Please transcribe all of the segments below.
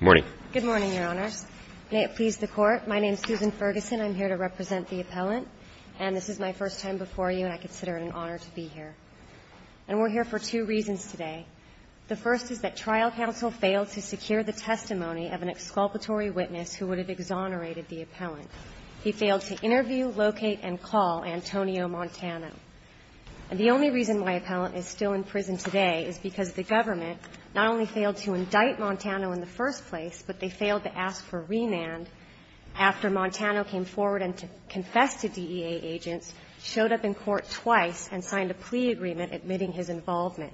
Good morning, Your Honors. May it please the Court. My name is Susan Ferguson. I'm here to represent the appellant, and this is my first time before you, and I consider it an honor to be here. And we're here for two reasons today. The first is that trial counsel failed to secure the testimony of an exculpatory witness who would have exonerated the appellant. He failed to interview, locate, and call Antonio Montano. And the only reason my appellant is still in prison today is because the government not only failed to indict Montano in the first place, but they failed to ask for remand after Montano came forward and confessed to DEA agents, showed up in court twice, and signed a plea agreement admitting his involvement.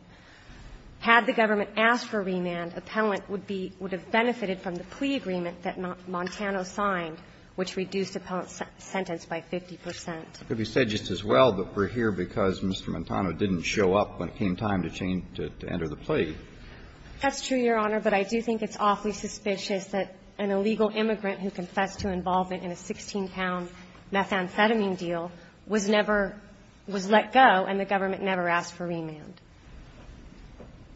Had the government asked for remand, appellant would be – would have benefited from the plea agreement that Montano signed, which reduced appellant's sentence by 50 percent. It could be said just as well that we're here because Mr. Montano didn't show up when it came time to change – to enter the plea. That's true, Your Honor, but I do think it's awfully suspicious that an illegal immigrant who confessed to involvement in a 16-pound methamphetamine deal was never – was let go, and the government never asked for remand.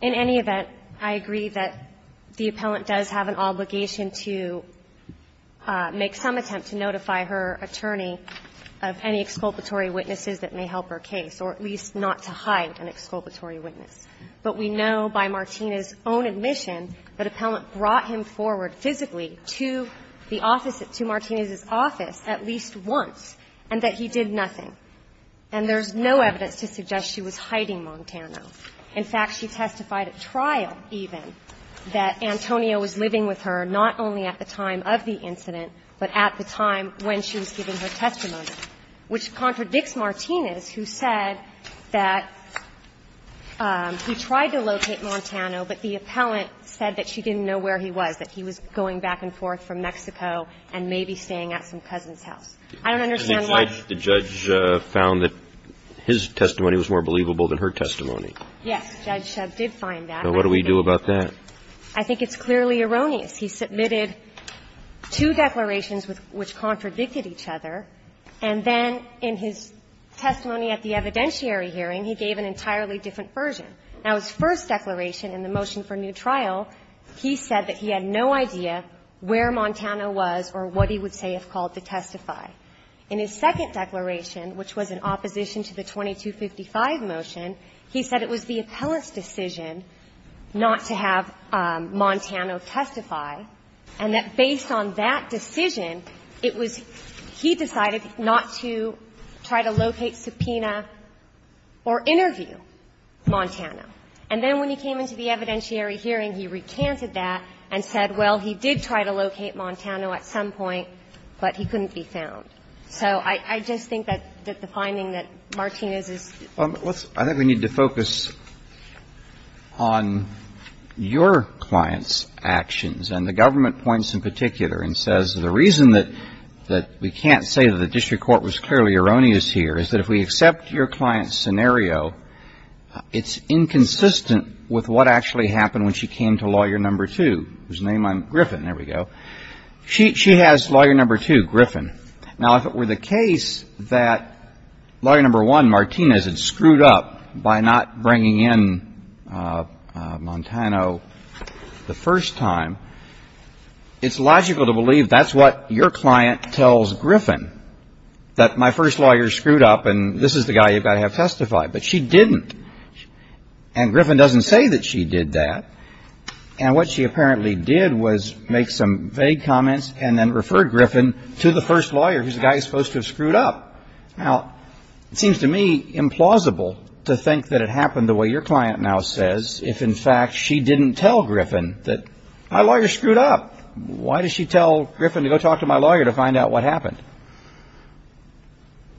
In any event, I agree that the appellant does have an obligation to make some attempt to notify her attorney of any exculpatory witnesses that may help her case, or at least not to hide an exculpatory witness. But we know by Martina's own admission that appellant brought him forward physically to the office – to Martina's office at least once, and that he did nothing. And there's no evidence to suggest she was hiding Montano. In fact, she testified at trial even that Antonio was living with her not only at the time of the incident, but at the time when she was giving her testimony, which contradicts Martina's, who said that he tried to locate Montano, but the appellant said that she didn't know where he was, that he was going back and forth from Mexico and maybe staying at some cousin's house. I don't understand why – The judge found that his testimony was more believable than her testimony. Yes. Judge Shebb did find that. So what do we do about that? I think it's clearly erroneous. He submitted two declarations which contradicted each other, and then in his testimony at the evidentiary hearing, he gave an entirely different version. Now, his first declaration in the motion for new trial, he said that he had no idea where Montano was or what he would say if called to testify. In his second declaration, which was in opposition to the 2255 motion, he said it was the appellant's decision not to have Montano testify, and that based on that decision, it was – he decided not to try to locate, subpoena, or interview Montano. And then when he came into the evidentiary hearing, he recanted that and said, well, he did try to locate Montano at some point, but he couldn't be found. So I just think that the finding that Martina's is – Well, let's – I think we need to focus on your client's actions, and the government points in particular and says the reason that we can't say that the district court was clearly erroneous here is that if we accept your client's scenario, it's inconsistent with what actually happened when she came to Lawyer No. 2, whose name I'm – Griffin, there we go. She has Lawyer No. 2, Griffin. Now, if it were the case that Lawyer No. 1, Martinez, had screwed up by not bringing in Montano the first time, it's logical to believe that's what your client tells Griffin, that my first lawyer screwed up, and this is the guy you've got to have testified. But she didn't. And Griffin doesn't say that she did that. And what she apparently did was make some vague comments and then refer Griffin to the first lawyer, who's the guy who's supposed to have screwed up. Now, it seems to me implausible to think that it happened the way your client now says if, in fact, she didn't tell Griffin that my lawyer screwed up. Why does she tell Griffin to go talk to my lawyer to find out what happened?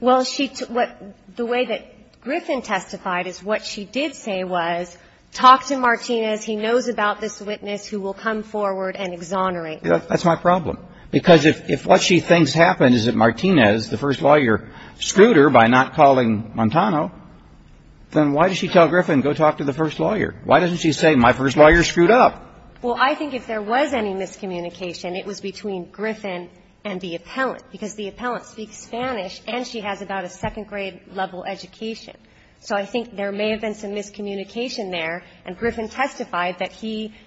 Well, she – what – the way that Griffin testified is what she did say was talk to Martinez. He knows about this witness who will come forward and exonerate him. That's my problem. Because if what she thinks happened is that Martinez, the first lawyer, screwed her by not calling Montano, then why does she tell Griffin go talk to the first lawyer? Why doesn't she say my first lawyer screwed up? Well, I think if there was any miscommunication, it was between Griffin and the appellant, because the appellant speaks Spanish and she has about a second-grade level education. So I think there may have been some miscommunication there, and Griffin testified that he –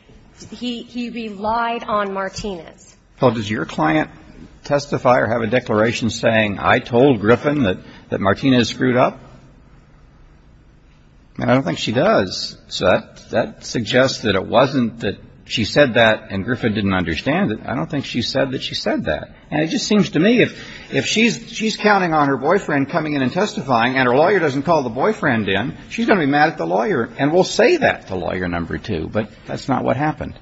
he relied on Martinez. Well, does your client testify or have a declaration saying I told Griffin that Martinez screwed up? And I don't think she does. So that suggests that it wasn't that she said that and Griffin didn't understand it. I don't think she said that she said that. And it just seems to me if she's counting on her boyfriend coming in and testifying and her lawyer doesn't call the boyfriend in, she's going to be mad at the lawyer and will say that to lawyer number two. But that's not what happened.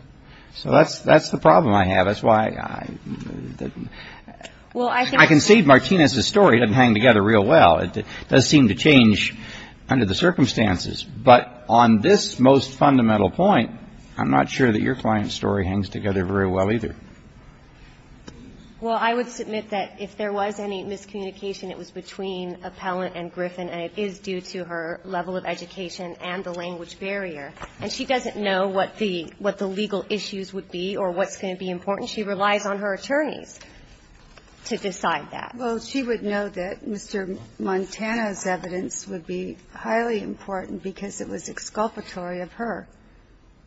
So that's the problem I have. That's why I concede Martinez's story doesn't hang together real well. It does seem to change under the circumstances. But on this most fundamental point, I'm not sure that your client's story hangs together very well either. Well, I would submit that if there was any miscommunication, it was between appellant and Griffin, and it is due to her level of education and the language barrier. And she doesn't know what the legal issues would be or what's going to be important. She relies on her attorneys to decide that. Well, she would know that Mr. Montana's evidence would be highly important because it was exculpatory of her.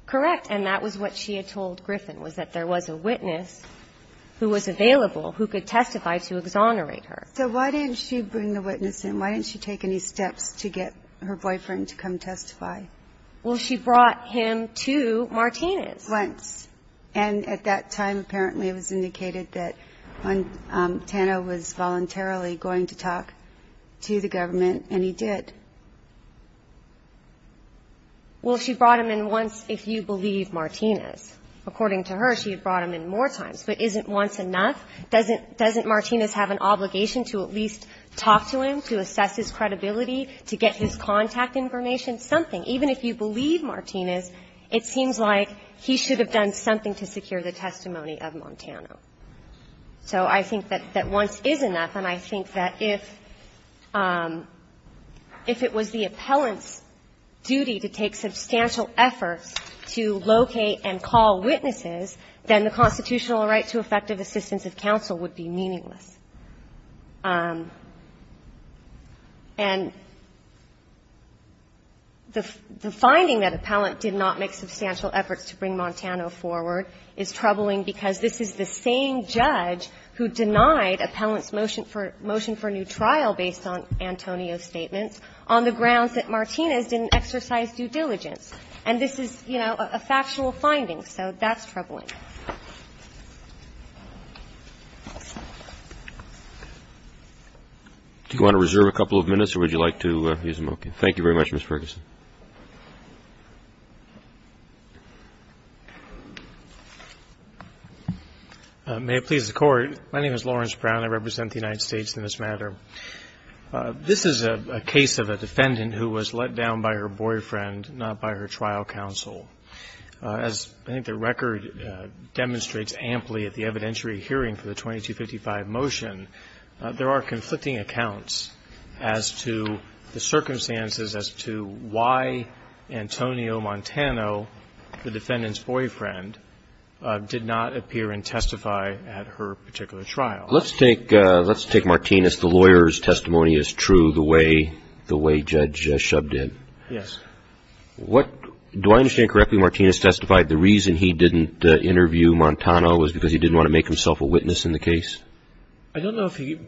Correct. And that was what she had told Griffin, was that there was a witness who was available who could testify to exonerate her. So why didn't she bring the witness in? Why didn't she take any steps to get her boyfriend to come testify? Well, she brought him to Martinez. Once. And at that time, apparently it was indicated that Tano was voluntarily going to talk to the government, and he did. Well, she brought him in once, if you believe Martinez. According to her, she had brought him in more times. But isn't once enough? Doesn't Martinez have an obligation to at least talk to him, to assess his credibility, to get his contact information? Something. Even if you believe Martinez, it seems like he should have done something to secure the testimony of Montana. So I think that once is enough, and I think that if it was the appellant's duty to take substantial efforts to locate and call witnesses, then the constitutional right to effective assistance of counsel would be meaningless. And the finding that appellant did not make substantial efforts to bring Montana forward is troubling because this is the same judge who denied appellant's motion for new trial based on Antonio's statements on the grounds that Martinez didn't exercise due diligence. And this is, you know, a factual finding. So that's troubling. Do you want to reserve a couple of minutes, or would you like to use them? Okay. Thank you very much, Ms. Ferguson. May it please the Court. My name is Lawrence Brown. I represent the United States in this matter. This is a case of a defendant who was let down by her boyfriend, not by her trial counsel. As I think the record demonstrates amply at the evidentiary hearing for the 2255 motion, there are conflicting accounts as to the circumstances as to why Antonio Montano, the defendant's boyfriend, did not appear and testify at her particular trial. Let's take Martinez. The lawyer's testimony is true the way Judge Shub did. Yes. Do I understand correctly Martinez testified the reason he didn't interview Montano was because he didn't want to make himself a witness in the case? I don't know if he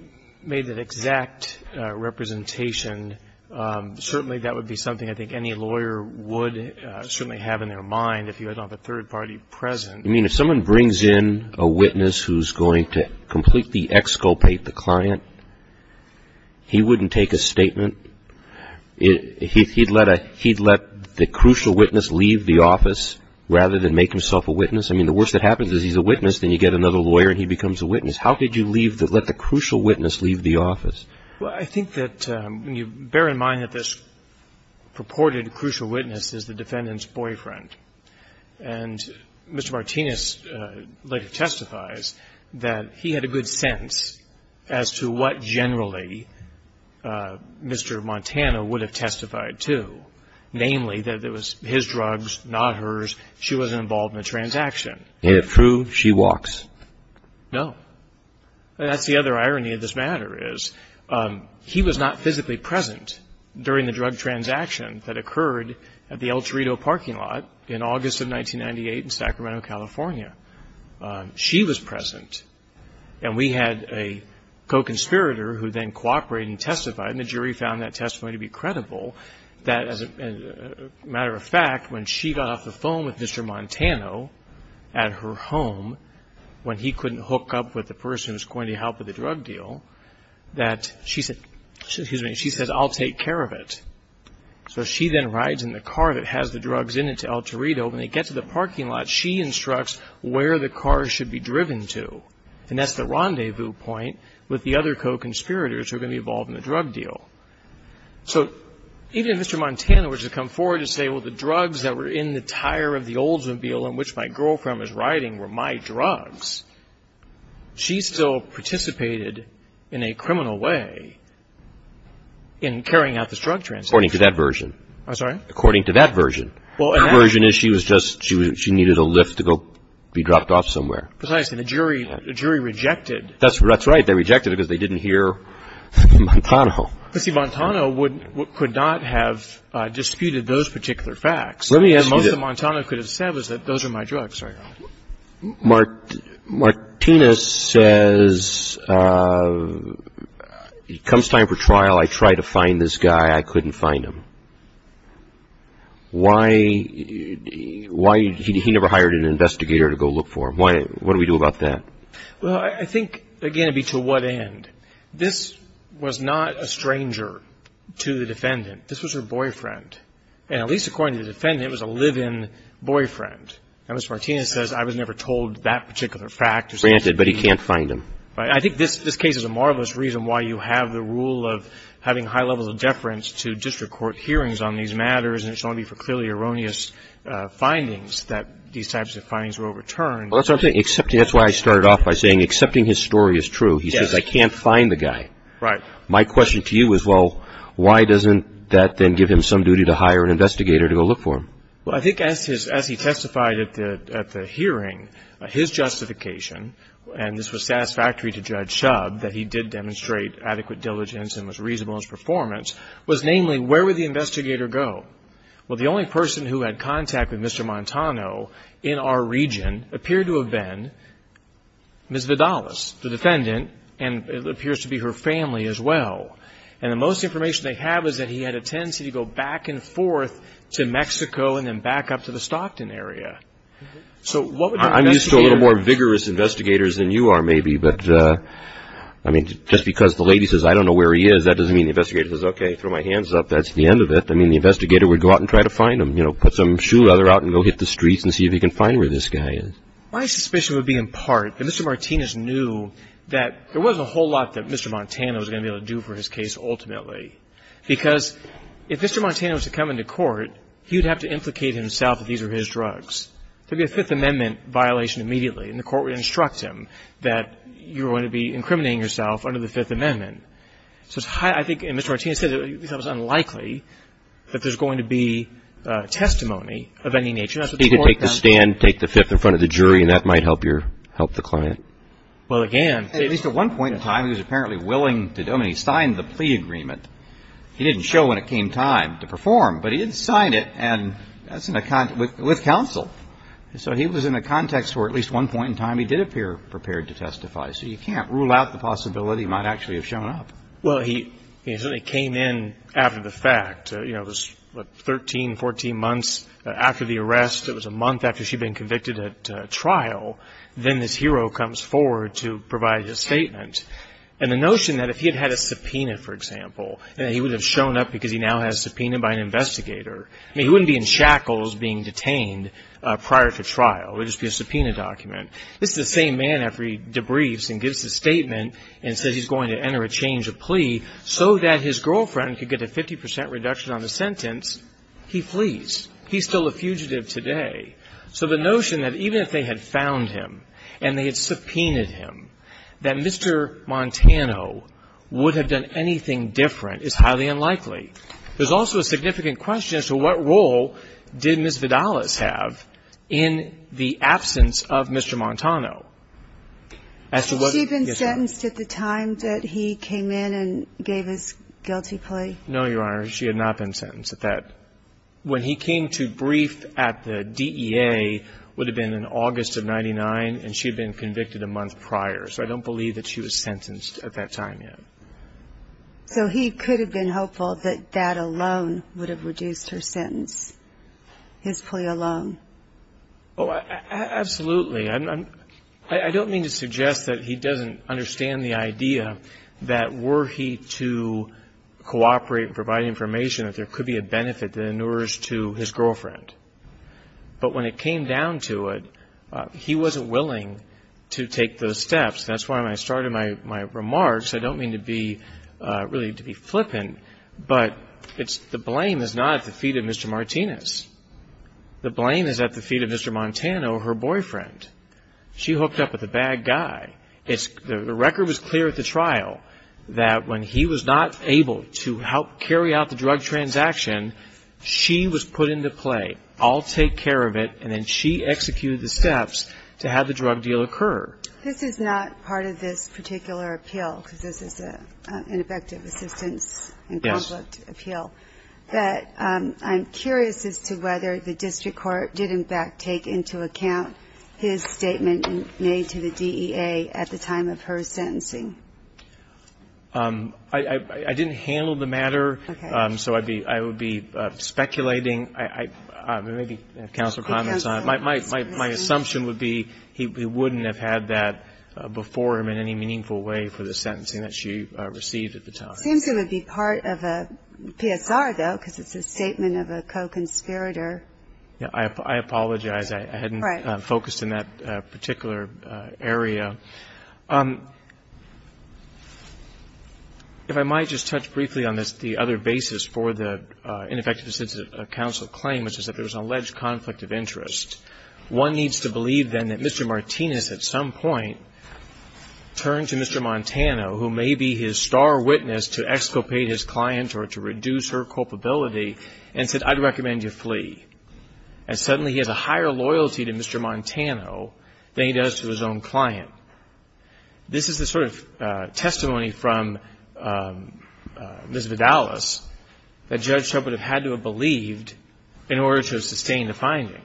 made that exact representation. Certainly that would be something I think any lawyer would certainly have in their mind if he had a third party present. I mean, if someone brings in a witness who's going to completely exculpate the client, he wouldn't take a statement. He'd let the crucial witness leave the office rather than make himself a witness? I mean, the worst that happens is he's a witness, then you get another lawyer and he becomes a witness. How did you let the crucial witness leave the office? Well, I think that when you bear in mind that this purported crucial witness is the defendant's boyfriend, and Mr. Martinez later testifies that he had a good sense as to what generally Mr. Montano would have testified to, namely that it was his drugs, not hers, she wasn't involved in the transaction. Is it true she walks? No. That's the other irony of this matter is he was not physically present during the drug transaction that occurred at the El Torito parking lot in August of 1998 in Sacramento, California. She was present. And we had a co-conspirator who then cooperated and testified, and the jury found that testimony to be credible, that as a matter of fact, when she got off the phone with Mr. Montano at her home, when he couldn't hook up with the person who was going to help with the drug deal, that she said, excuse me, she said, I'll take care of it. So she then rides in the car that has the drugs in it to El Torito. When they get to the parking lot, she instructs where the car should be driven to. And that's the rendezvous point with the other co-conspirators who are going to be involved in the drug deal. So even if Mr. Montano were to come forward and say, well, the drugs that were in the tire of the Oldsmobile in which my girlfriend was riding were my drugs, she still participated in a criminal way in carrying out this drug transaction. According to that version. I'm sorry? According to that version. The version is she was just, she needed a lift to go be dropped off somewhere. Precisely. And the jury rejected. That's right. They rejected it because they didn't hear Montano. But see, Montano would not have disputed those particular facts. Let me ask you this. Most of what Montano could have said was that those are my drugs. Martinez says, it comes time for trial. I tried to find this guy. I couldn't find him. Why, he never hired an investigator to go look for him. What do we do about that? Well, I think, again, it would be to what end. This was not a stranger to the defendant. This was her boyfriend. And at least according to the defendant, it was a live-in boyfriend. And Ms. Martinez says, I was never told that particular fact. Granted, but he can't find him. I think this case is a marvelous reason why you have the rule of having high levels of And it's only for clearly erroneous findings that these types of findings were overturned. Well, that's what I'm saying. That's why I started off by saying accepting his story is true. He says, I can't find the guy. Right. My question to you is, well, why doesn't that then give him some duty to hire an investigator to go look for him? Well, I think as he testified at the hearing, his justification, and this was satisfactory to Judge Shubb that he did demonstrate adequate diligence and was reasonable in his performance, was namely, where would the investigator go? Well, the only person who had contact with Mr. Montano in our region appeared to have been Ms. Vidalas, the defendant, and it appears to be her family as well. And the most information they have is that he had a tendency to go back and forth to Mexico and then back up to the Stockton area. So what would the investigator do? I'm used to a little more vigorous investigators than you are maybe. But, I mean, just because the lady says, I don't know where he is, that doesn't mean the investigator says, okay, throw my hands up. That's the end of it. I mean, the investigator would go out and try to find him, you know, put some shoe leather out and go hit the streets and see if he can find where this guy is. My suspicion would be in part that Mr. Martinez knew that there wasn't a whole lot that Mr. Montano was going to be able to do for his case ultimately because if Mr. Montano was to come into court, he would have to implicate himself that these were his drugs. There would be a Fifth Amendment violation immediately, and the court would instruct him that you're going to be incriminating yourself under the Fifth Amendment. So I think Mr. Martinez said it was unlikely that there's going to be testimony of any nature. He could take the stand, take the Fifth in front of the jury, and that might help the client. Well, again. At least at one point in time he was apparently willing to do it. I mean, he signed the plea agreement. He didn't show when it came time to perform, but he did sign it, and that's with counsel. So he was in a context where at least one point in time he did appear prepared to testify. So you can't rule out the possibility he might actually have shown up. Well, he certainly came in after the fact. You know, it was 13, 14 months after the arrest. It was a month after she had been convicted at trial. Then this hero comes forward to provide his statement. And the notion that if he had had a subpoena, for example, that he would have shown up because he now has a subpoena by an investigator. I mean, he wouldn't be in shackles being detained prior to trial. It would just be a subpoena document. This is the same man after he debriefs and gives his statement and says he's going to enter a change of plea so that his girlfriend could get a 50 percent reduction on the sentence. He flees. He's still a fugitive today. So the notion that even if they had found him and they had subpoenaed him, that Mr. Montano would have done anything different is highly unlikely. There's also a significant question as to what role did Ms. Vidalas have in the absence of Mr. Montano. As to what he said. Had she been sentenced at the time that he came in and gave his guilty plea? No, Your Honor. She had not been sentenced at that. When he came to brief at the DEA, it would have been in August of 1999, and she had been convicted a month prior. So I don't believe that she was sentenced at that time yet. So he could have been hopeful that that alone would have reduced her sentence, his plea alone. Oh, absolutely. I don't mean to suggest that he doesn't understand the idea that were he to cooperate and provide information that there could be a benefit that inures to his girlfriend. But when it came down to it, he wasn't willing to take those steps. That's why when I started my remarks, I don't mean to be really to be flippant, but the blame is not at the feet of Mr. Martinez. The blame is at the feet of Mr. Montano, her boyfriend. She hooked up with a bad guy. The record was clear at the trial that when he was not able to help carry out the drug transaction, she was put into play. I'll take care of it, and then she executed the steps to have the drug deal occur. This is not part of this particular appeal, because this is an effective assistance and conflict appeal. But I'm curious as to whether the district court did, in fact, take into account his statement made to the DEA at the time of her sentencing. I didn't handle the matter, so I would be speculating. Maybe counsel comments on it. My assumption would be he wouldn't have had that before him in any meaningful way for the sentencing that she received at the time. It seems it would be part of a PSR, though, because it's a statement of a co-conspirator. I apologize. I hadn't focused in that particular area. If I might just touch briefly on the other basis for the ineffective assistance of counsel claim, which is that there was an alleged conflict of interest. One needs to believe, then, that Mr. Martinez at some point turned to Mr. Montano, who may be his star witness to exculpate his client or to reduce her culpability, and said, I'd recommend you flee. And suddenly he has a higher loyalty to Mr. Montano than he does to his own client. This is the sort of testimony from Ms. Vidalis that Judge Shrupp would have had to have believed, in order to sustain the finding,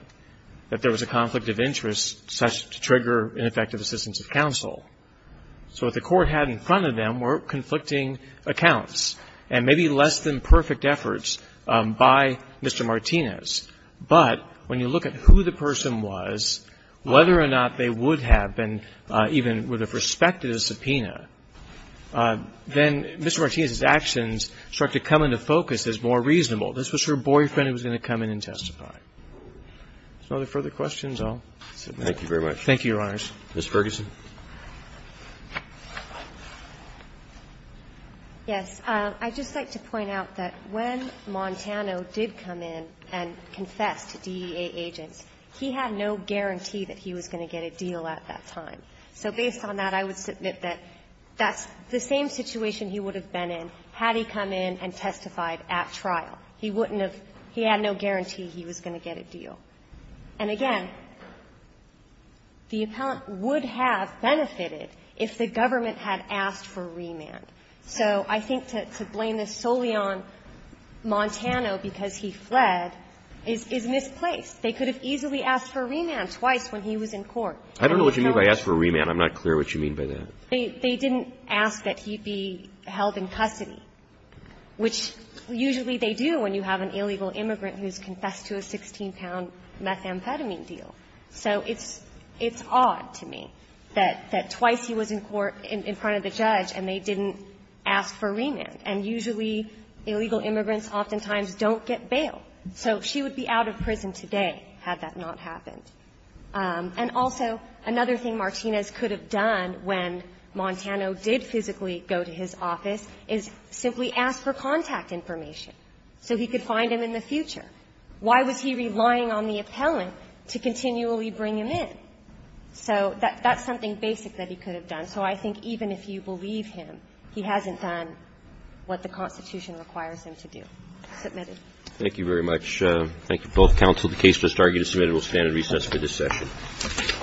that there was a conflict of interest, such to trigger ineffective assistance of counsel. So what the court had in front of them were conflicting accounts and maybe less than perfect efforts by Mr. Martinez. But when you look at who the person was, whether or not they would have been even with respect to the subpoena, then Mr. Martinez's actions start to come into focus as more reasonable. This was her boyfriend who was going to come in and testify. If there's no further questions, I'll sit back. Thank you very much. Thank you, Your Honors. Ms. Ferguson. Yes. I'd just like to point out that when Montano did come in and confessed to DEA agents, he had no guarantee that he was going to get a deal at that time. So based on that, I would submit that that's the same situation he would have been in had he come in and testified at trial. He wouldn't have – he had no guarantee he was going to get a deal. And again, the appellant would have benefited if the government had asked for a remand. So I think to blame this solely on Montano because he fled is misplaced. They could have easily asked for a remand twice when he was in court. I don't know what you mean by asked for a remand. I'm not clear what you mean by that. They didn't ask that he be held in custody, which usually they do when you have an illegal immigrant who has confessed to a 16-pound methamphetamine deal. So it's odd to me that twice he was in court in front of the judge and they didn't ask for remand. And usually illegal immigrants oftentimes don't get bail. So she would be out of prison today had that not happened. And also another thing Martinez could have done when Montano did physically go to his office is simply ask for contact information so he could find him in the future. Why was he relying on the appellant to continually bring him in? So that's something basic that he could have done. So I think even if you believe him, he hasn't done what the Constitution requires him to do. Submitted. Roberts. Thank you very much. Thank you both. Counsel. The case was argued and submitted. We'll stand at recess for this session. Thank you. Thank you.